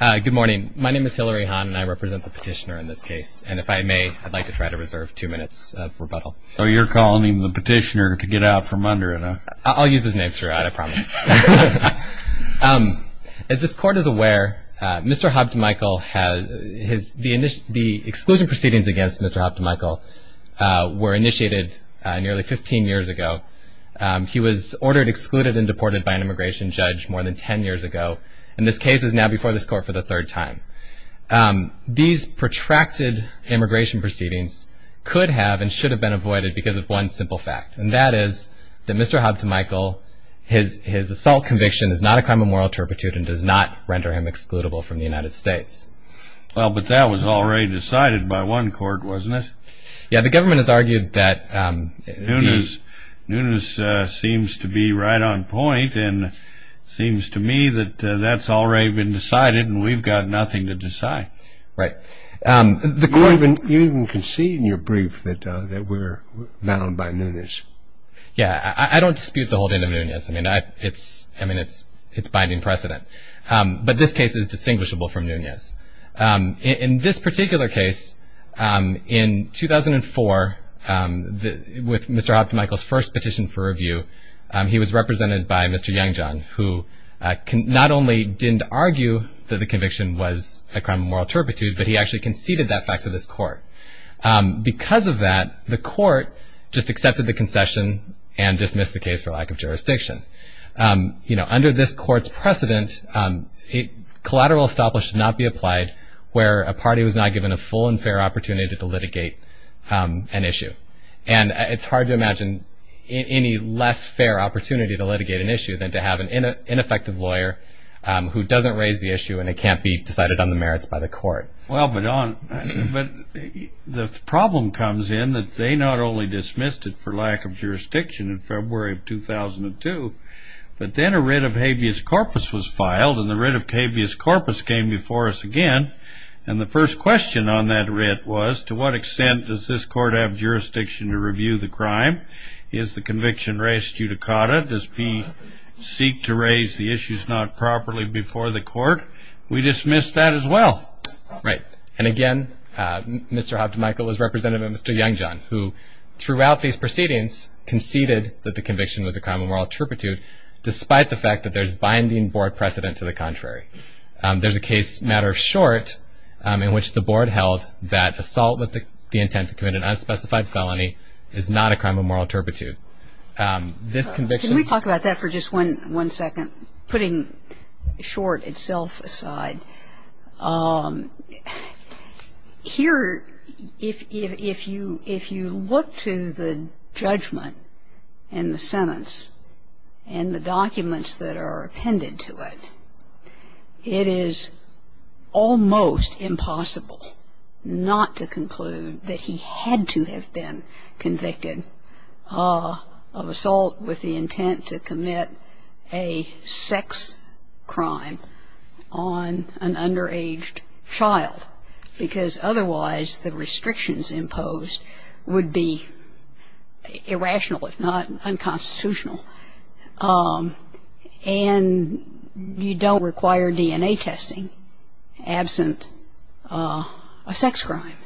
Good morning. My name is Hillary Hahn and I represent the petitioner in this case. And if I may, I'd like to try to reserve two minutes of rebuttal. So you're calling him the petitioner to get out from under him, huh? I'll use his name throughout, I promise. As this Court is aware, Mr. Habtemicael, the exclusion proceedings against Mr. Habtemicael were initiated nearly 15 years ago. He was ordered, excluded, and deported by an immigration judge more than 10 years ago. And this case is now before this Court for the third time. These protracted immigration proceedings could have and should have been avoided because of one simple fact, and that is that Mr. Habtemicael, his assault conviction is not a crime of moral turpitude and does not render him excludable from the United States. Well, but that was already decided by one Court, wasn't it? Yeah, the government has argued that... Nunes seems to be right on point and seems to me that that's already been decided and we've got nothing to decide. Right. You even can see in your brief that we're mounted by Nunes. Yeah, I don't dispute the holding of Nunes. I mean, it's binding precedent. But this case is distinguishable from Nunes. In this particular case, in 2004, with Mr. Habtemicael's first petition for review, he was represented by Mr. Youngjong, who not only didn't argue that the conviction was a crime of moral turpitude, but he actually conceded that fact to this Court. Because of that, the Court just accepted the concession and dismissed the case for lack of jurisdiction. Under this Court's precedent, collateral establishment should not be applied where a party was not given a full and fair opportunity to litigate an issue. And it's hard to imagine any less fair opportunity to litigate an issue than to have an ineffective lawyer who doesn't raise the issue and it can't be decided on the merits by the Court. Well, but the problem comes in that they not only dismissed it for lack of jurisdiction in February of 2002, but then a writ of habeas corpus was filed, and the writ of habeas corpus came before us again. And the first question on that writ was, to what extent does this Court have jurisdiction to review the crime? Is the conviction res judicata? Does he seek to raise the issues not properly before the Court? We dismissed that as well. Right. And, again, Mr. Habtemichael is represented by Mr. Youngjohn, who throughout these proceedings conceded that the conviction was a crime of moral turpitude, despite the fact that there's binding Board precedent to the contrary. There's a case, matter of short, in which the Board held that assault with the intent to commit an unspecified felony is not a crime of moral turpitude. This conviction- Can we talk about that for just one second? Putting short itself aside, here, if you look to the judgment and the sentence and the documents that are appended to it, it is almost impossible not to conclude that he had to have been convicted of assault with the intent to commit a sex crime on an underaged child, because otherwise the restrictions imposed would be irrational, if not unconstitutional. And you don't require DNA testing absent a sex crime.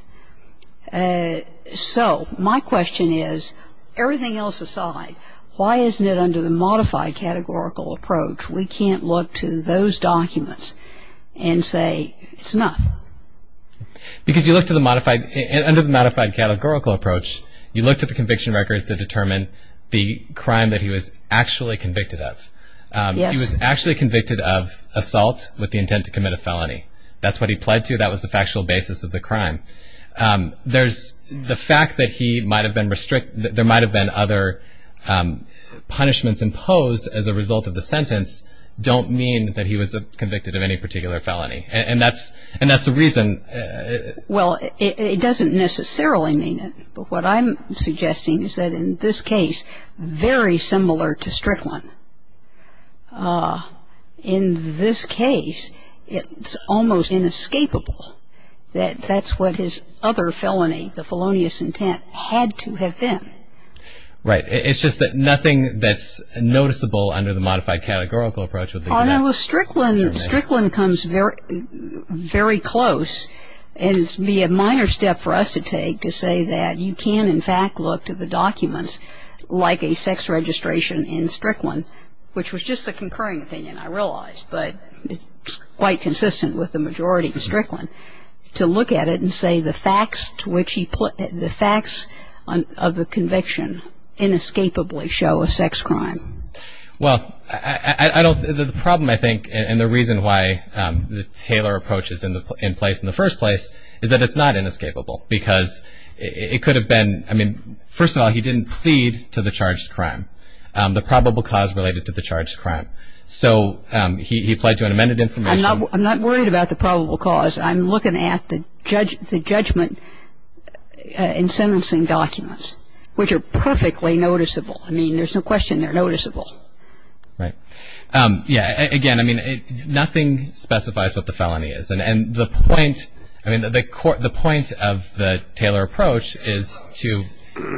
So my question is, everything else aside, why isn't it under the modified categorical approach, we can't look to those documents and say it's enough? Because you look to the modified- under the modified categorical approach, you looked at the conviction records to determine the crime that he was actually convicted of. He was actually convicted of assault with the intent to commit a felony. That's what he pled to. He pled that that was the factual basis of the crime. There's the fact that he might have been restrict- that there might have been other punishments imposed as a result of the sentence don't mean that he was convicted of any particular felony. And that's the reason- Well, it doesn't necessarily mean it. But what I'm suggesting is that in this case, very similar to Strickland, in this case, it's almost inescapable that that's what his other felony, the felonious intent, had to have been. Right. It's just that nothing that's noticeable under the modified categorical approach- Well, Strickland comes very close. And it would be a minor step for us to take to say that you can, in fact, look to the documents, like a sex registration in Strickland, which was just a concurring opinion, I realize, but it's quite consistent with the majority in Strickland, to look at it and say the facts to which he- the facts of the conviction inescapably show a sex crime. Well, I don't- the problem, I think, and the reason why the Taylor approach is in place in the first place is that it's not inescapable because it could have been- I mean, first of all, he didn't plead to the charged crime, the probable cause related to the charged crime. So he applied to an amended information- I'm not worried about the probable cause. I'm looking at the judgment in sentencing documents, which are perfectly noticeable. I mean, there's no question they're noticeable. Right. Yeah, again, I mean, nothing specifies what the felony is. And the point- I mean, the point of the Taylor approach is to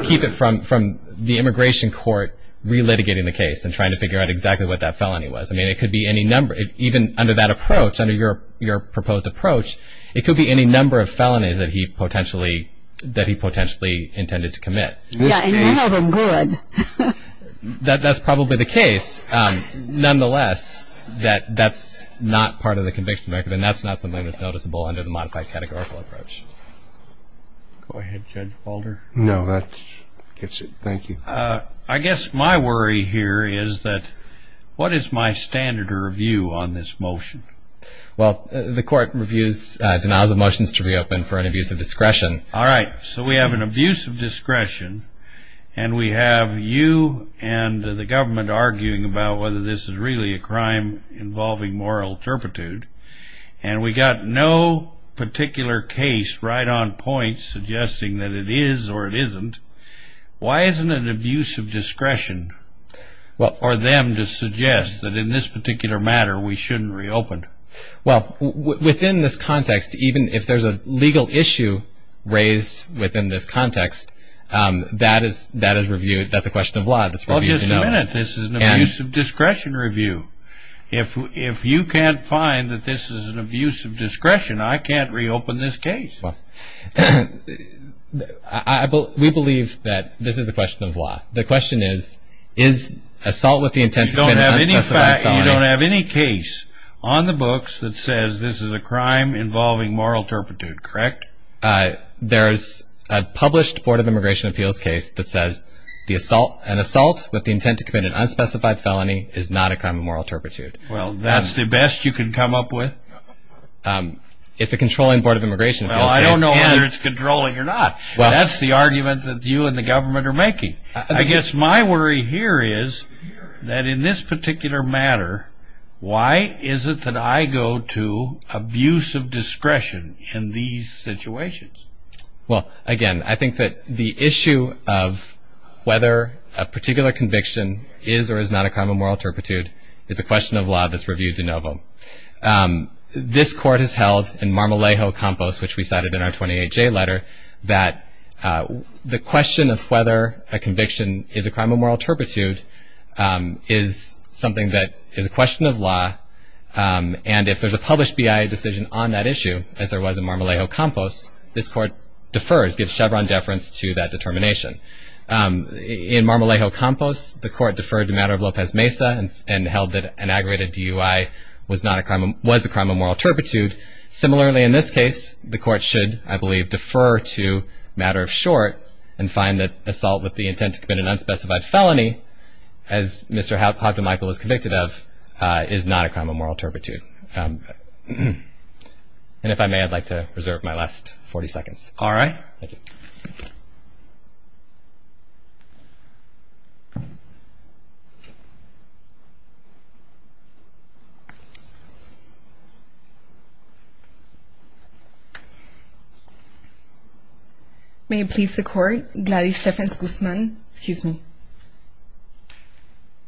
keep it from the immigration court relitigating the case and trying to figure out exactly what that felony was. I mean, it could be any number. Even under that approach, under your proposed approach, it could be any number of felonies that he potentially intended to commit. Yeah, and none of them good. That's probably the case. Nonetheless, that's not part of the conviction record, and that's not something that's noticeable under the modified categorical approach. Go ahead, Judge Balder. No, that gets it. Thank you. I guess my worry here is that what is my standard of review on this motion? Well, the court denies the motions to reopen for an abuse of discretion. All right, so we have an abuse of discretion, and we have you and the government arguing about whether this is really a crime involving moral turpitude, and we got no particular case right on point suggesting that it is or it isn't. Why isn't an abuse of discretion for them to suggest that in this particular matter we shouldn't reopen? Well, within this context, even if there's a legal issue raised within this context, that is reviewed. That's a question of law. Well, just a minute. This is an abuse of discretion review. If you can't find that this is an abuse of discretion, I can't reopen this case. We believe that this is a question of law. The question is, is assault with the intent to commit an unspecified felony. You don't have any case on the books that says this is a crime involving moral turpitude, correct? There's a published Board of Immigration Appeals case that says an assault with the intent to commit an unspecified felony is not a crime of moral turpitude. Well, that's the best you can come up with? It's a controlling Board of Immigration Appeals case. Well, I don't know whether it's controlling or not. That's the argument that you and the government are making. I guess my worry here is that in this particular matter, why is it that I go to abuse of discretion in these situations? Well, again, I think that the issue of whether a particular conviction is or is not a crime of moral turpitude is a question of law that's reviewed de novo. This Court has held in Marmolejo-Campos, which we cited in our 28-J letter, that the question of whether a conviction is a crime of moral turpitude is something that is a question of law. And if there's a published BIA decision on that issue, as there was in Marmolejo-Campos, this Court defers, gives Chevron deference to that determination. In Marmolejo-Campos, the Court deferred the matter of Lopez Mesa and held that an aggravated DUI was a crime of moral turpitude. Similarly, in this case, the Court should, I believe, defer to matter of short and find that assault with the intent to commit an unspecified felony, as Mr. Houghton-Michael is convicted of, is not a crime of moral turpitude. And if I may, I'd like to reserve my last 40 seconds. All right. May it please the Court, Gladys Stephens-Guzman,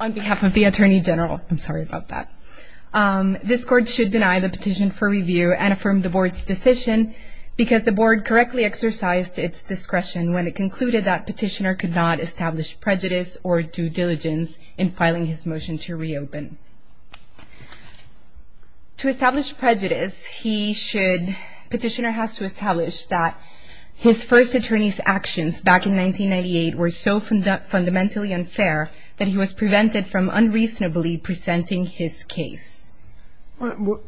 on behalf of the Attorney General. I'm sorry about that. This Court should deny the petition for review and affirm the Board's decision because the Board correctly exercised its discretion when it concluded that Petitioner could not establish prejudice or due diligence in filing his motion to reopen. To establish prejudice, he should, Petitioner has to establish that his first attorney's actions back in 1998 were so fundamentally unfair that he was prevented from unreasonably presenting his case. Well,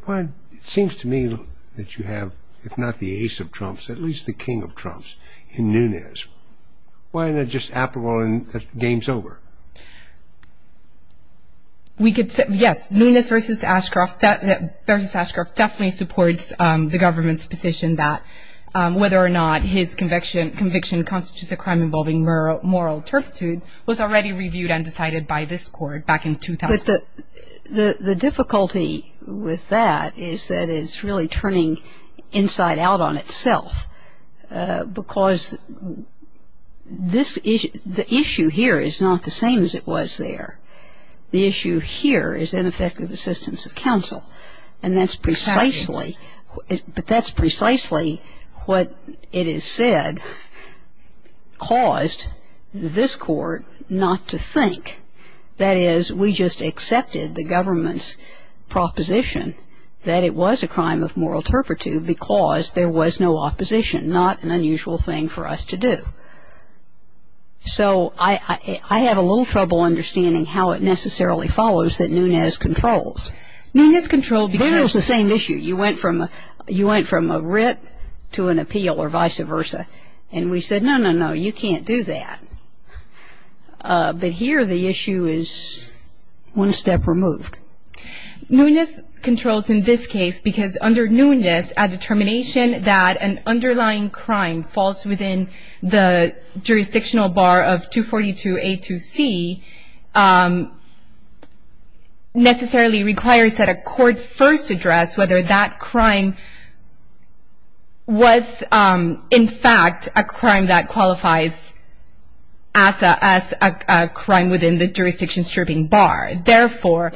it seems to me that you have, if not the ace of trumps, at least the king of trumps in Nunes. Why isn't it just Appleball and the game's over? Yes, Nunes versus Ashcroft definitely supports the government's position that whether or not his conviction constitutes a crime involving moral turpitude was already reviewed and decided by this Court back in 2000. But the difficulty with that is that it's really turning inside out on itself because the issue here is not the same as it was there. The issue here is ineffective assistance of counsel, and that's precisely what it has said caused this Court not to think. That is, we just accepted the government's proposition that it was a crime of moral turpitude because there was no opposition, not an unusual thing for us to do. So I have a little trouble understanding how it necessarily follows that Nunes controls. Nunes controlled because of the same issue. You went from a writ to an appeal or vice versa. And we said, no, no, no, you can't do that. But here the issue is one step removed. Nunes controls in this case because under Nunes, a determination that an underlying crime falls within the jurisdictional bar of 242A2C necessarily requires that a court first address whether that crime was, in fact, a crime that qualifies as a crime within the jurisdiction stripping bar. Therefore,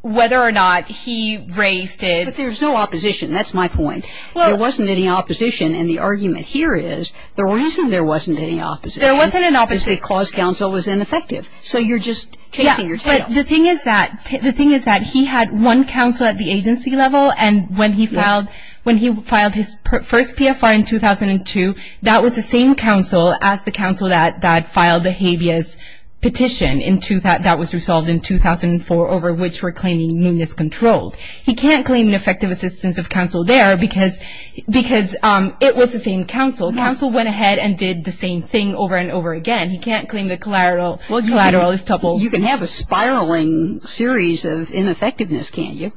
whether or not he raised it. But there's no opposition. That's my point. There wasn't any opposition, and the argument here is the reason there wasn't any opposition is because counsel was ineffective. So you're just chasing your tail. But the thing is that he had one counsel at the agency level, and when he filed his first PFR in 2002, that was the same counsel as the counsel that filed the habeas petition that was resolved in 2004 over which we're claiming Nunes controlled. He can't claim an effective assistance of counsel there because it was the same counsel. Counsel went ahead and did the same thing over and over again. He can't claim the collateral is double. You can have a spiraling series of ineffectiveness, can't you?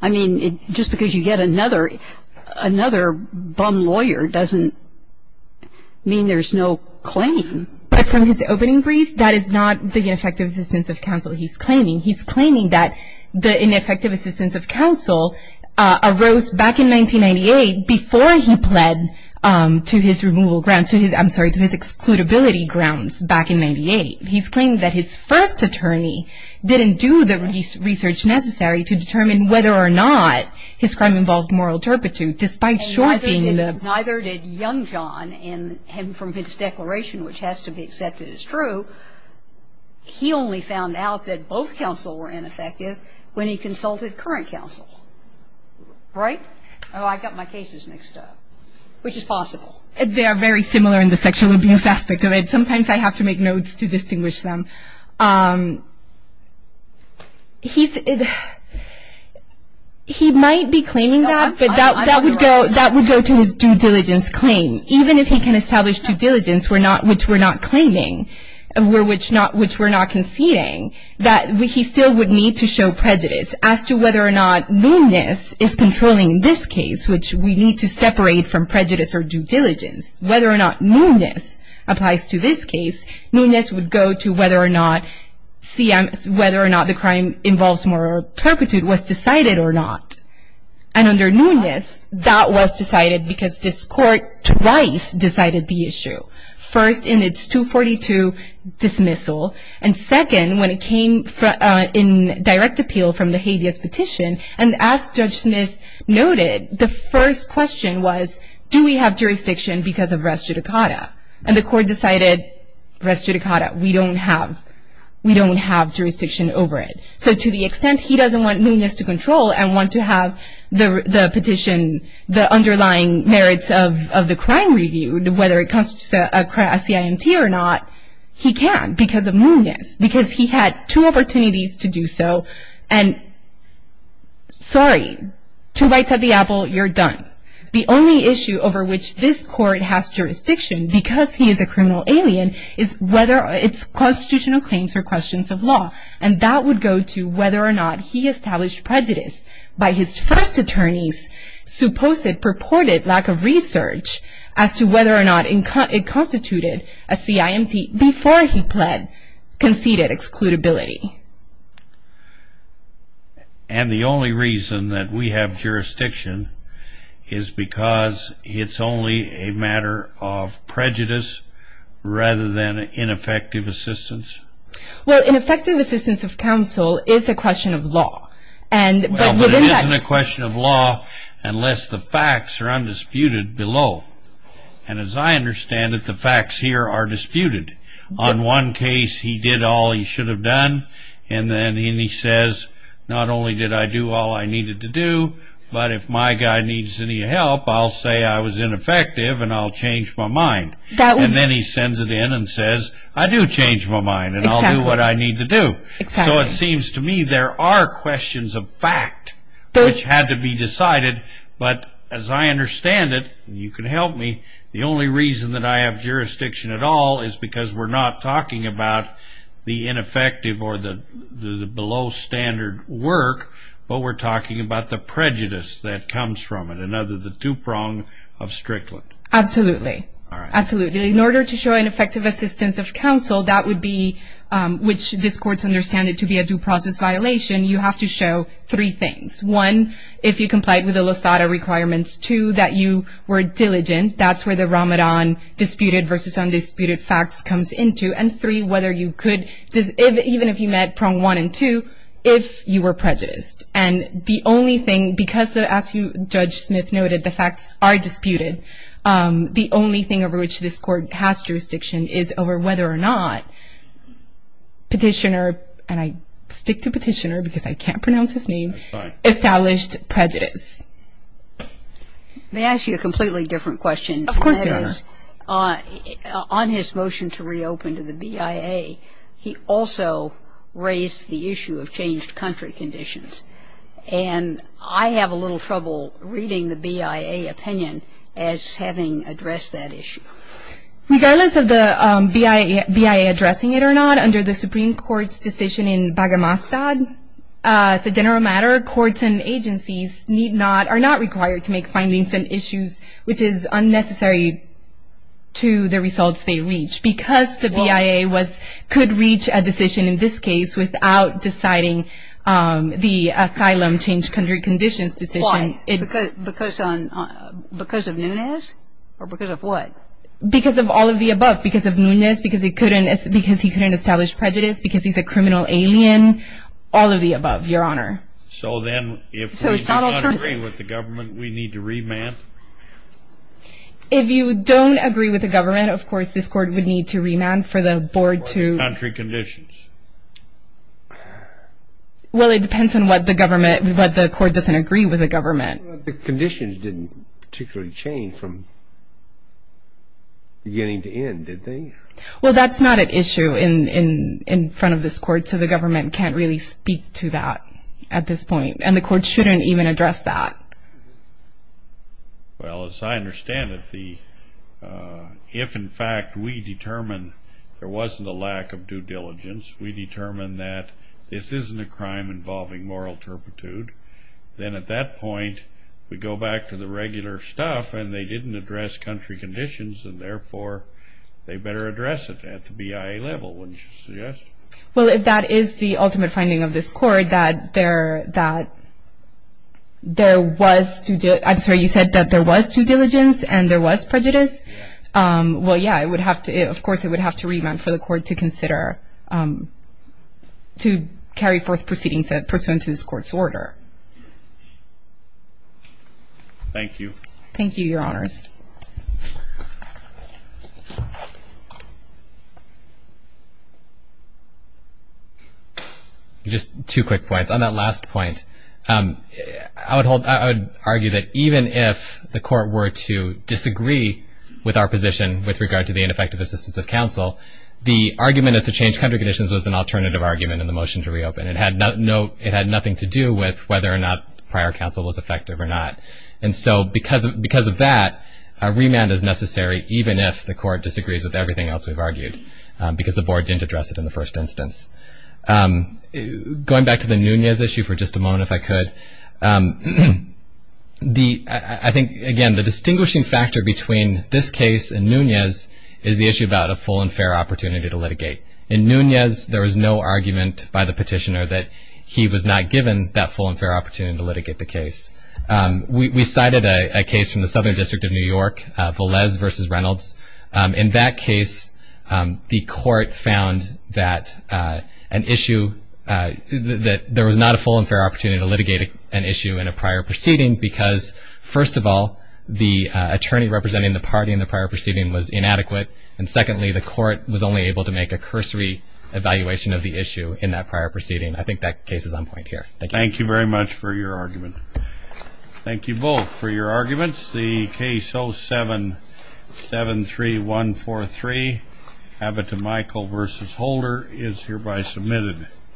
I mean, just because you get another bum lawyer doesn't mean there's no claim. But from his opening brief, that is not the ineffective assistance of counsel he's claiming. He's claiming that the ineffective assistance of counsel arose back in 1998 before he pled to his removal grounds, I'm sorry, to his excludability grounds back in 98. He's claiming that his first attorney didn't do the research necessary to determine whether or not his crime involved moral turpitude, despite shortening the ---- And neither did Youngjohn. And from his declaration, which has to be accepted as true, he only found out that both counsel were ineffective when he consulted current counsel. Right? Oh, I got my cases mixed up, which is possible. They are very similar in the sexual abuse aspect of it. Sometimes I have to make notes to distinguish them. He might be claiming that, but that would go to his due diligence claim. Even if he can establish due diligence, which we're not claiming, which we're not conceding, that he still would need to show prejudice as to whether or not meanness is controlling this case, which we need to separate from prejudice or due diligence. Whether or not meanness applies to this case, meanness would go to whether or not the crime involves moral turpitude was decided or not. And under meanness, that was decided because this court twice decided the issue. First, in its 242 dismissal. And second, when it came in direct appeal from the habeas petition. And as Judge Smith noted, the first question was, do we have jurisdiction because of res judicata? And the court decided, res judicata, we don't have jurisdiction over it. So to the extent he doesn't want meanness to control and want to have the petition, the underlying merits of the crime reviewed, whether it constitutes a CIMT or not, he can because of meanness, because he had two opportunities to do so. And sorry, two bites at the apple, you're done. The only issue over which this court has jurisdiction because he is a criminal alien is whether it's constitutional claims or questions of law. And that would go to whether or not he established prejudice by his first attorney's supposed, purported lack of research as to whether or not it constituted a CIMT before he conceded excludability. And the only reason that we have jurisdiction is because it's only a matter of prejudice rather than ineffective assistance? Well, ineffective assistance of counsel is a question of law. Well, but it isn't a question of law unless the facts are undisputed below. And as I understand it, the facts here are disputed. On one case, he did all he should have done, and then he says, not only did I do all I needed to do, but if my guy needs any help, I'll say I was ineffective and I'll change my mind. And then he sends it in and says, I do change my mind and I'll do what I need to do. So it seems to me there are questions of fact which had to be decided, but as I understand it, you can help me, the only reason that I have jurisdiction at all is because we're not talking about the ineffective or the below-standard work, but we're talking about the prejudice that comes from it, another of the two prongs of Strickland. Absolutely. Absolutely. In order to show ineffective assistance of counsel, that would be, which this Court's understanding to be a due process violation, you have to show three things. One, if you complied with the Losada requirements. Two, that you were diligent. That's where the Ramadan disputed versus undisputed facts comes into. And three, whether you could, even if you met prong one and two, if you were prejudiced. And the only thing, because as Judge Smith noted, the facts are disputed, the only thing over which this Court has jurisdiction is over whether or not petitioner, and I stick to petitioner because I can't pronounce his name, established prejudice. May I ask you a completely different question? Of course, Your Honor. That is, on his motion to reopen to the BIA, he also raised the issue of changed country conditions. And I have a little trouble reading the BIA opinion as having addressed that issue. Regardless of the BIA addressing it or not, under the Supreme Court's decision in Bagramastad, as a general matter, courts and agencies are not required to make findings and issues which is unnecessary to the results they reach. Because the BIA could reach a decision, in this case, without deciding the asylum changed country conditions decision. Why? Because of Nunes? Or because of what? Because of all of the above. Because of Nunes, because he couldn't establish prejudice, because he's a criminal alien, all of the above, Your Honor. So then if we don't agree with the government, we need to remand? If you don't agree with the government, of course, this Court would need to remand for the board to ---- Country conditions. Well, it depends on what the government, what the Court doesn't agree with the government. The conditions didn't particularly change from beginning to end, did they? Well, that's not at issue in front of this Court, so the government can't really speak to that at this point. And the Court shouldn't even address that. Well, as I understand it, if, in fact, we determine there wasn't a lack of due diligence, we determine that this isn't a crime involving moral turpitude, then at that point we go back to the regular stuff, and they didn't address country conditions, and therefore they better address it at the BIA level, wouldn't you suggest? Well, if that is the ultimate finding of this Court, that there was due ---- I'm sorry, you said that there was due diligence and there was prejudice? Yes. Well, yeah, it would have to ---- of course, it would have to remand for the Court to consider to carry forth proceedings pursuant to this Court's order. Thank you. Thank you, Your Honors. Just two quick points. On that last point, I would argue that even if the Court were to disagree with our position with regard to the ineffective assistance of counsel, the argument as to change country conditions was an alternative argument in the motion to reopen. It had nothing to do with whether or not prior counsel was effective or not. And so because of that, a remand is necessary, even if the Court disagrees with everything else we've argued, because the Board didn't address it in the first instance. Going back to the Nunez issue for just a moment, if I could, I think, again, the distinguishing factor between this case and Nunez is the issue about a full and fair opportunity to litigate. In Nunez, there was no argument by the petitioner that he was not given that full and fair opportunity to litigate the case. We cited a case from the Southern District of New York, Velez v. Reynolds. In that case, the Court found that an issue, that there was not a full and fair opportunity to litigate an issue in a prior proceeding because, first of all, the attorney representing the party in the prior proceeding was inadequate, and secondly, the Court was only able to make a cursory evaluation of the issue in that prior proceeding. I think that case is on point here. Thank you. Thank you very much for your argument. Thank you both for your arguments. The case 0773143, Abbott v. Michael v. Holder, is hereby submitted.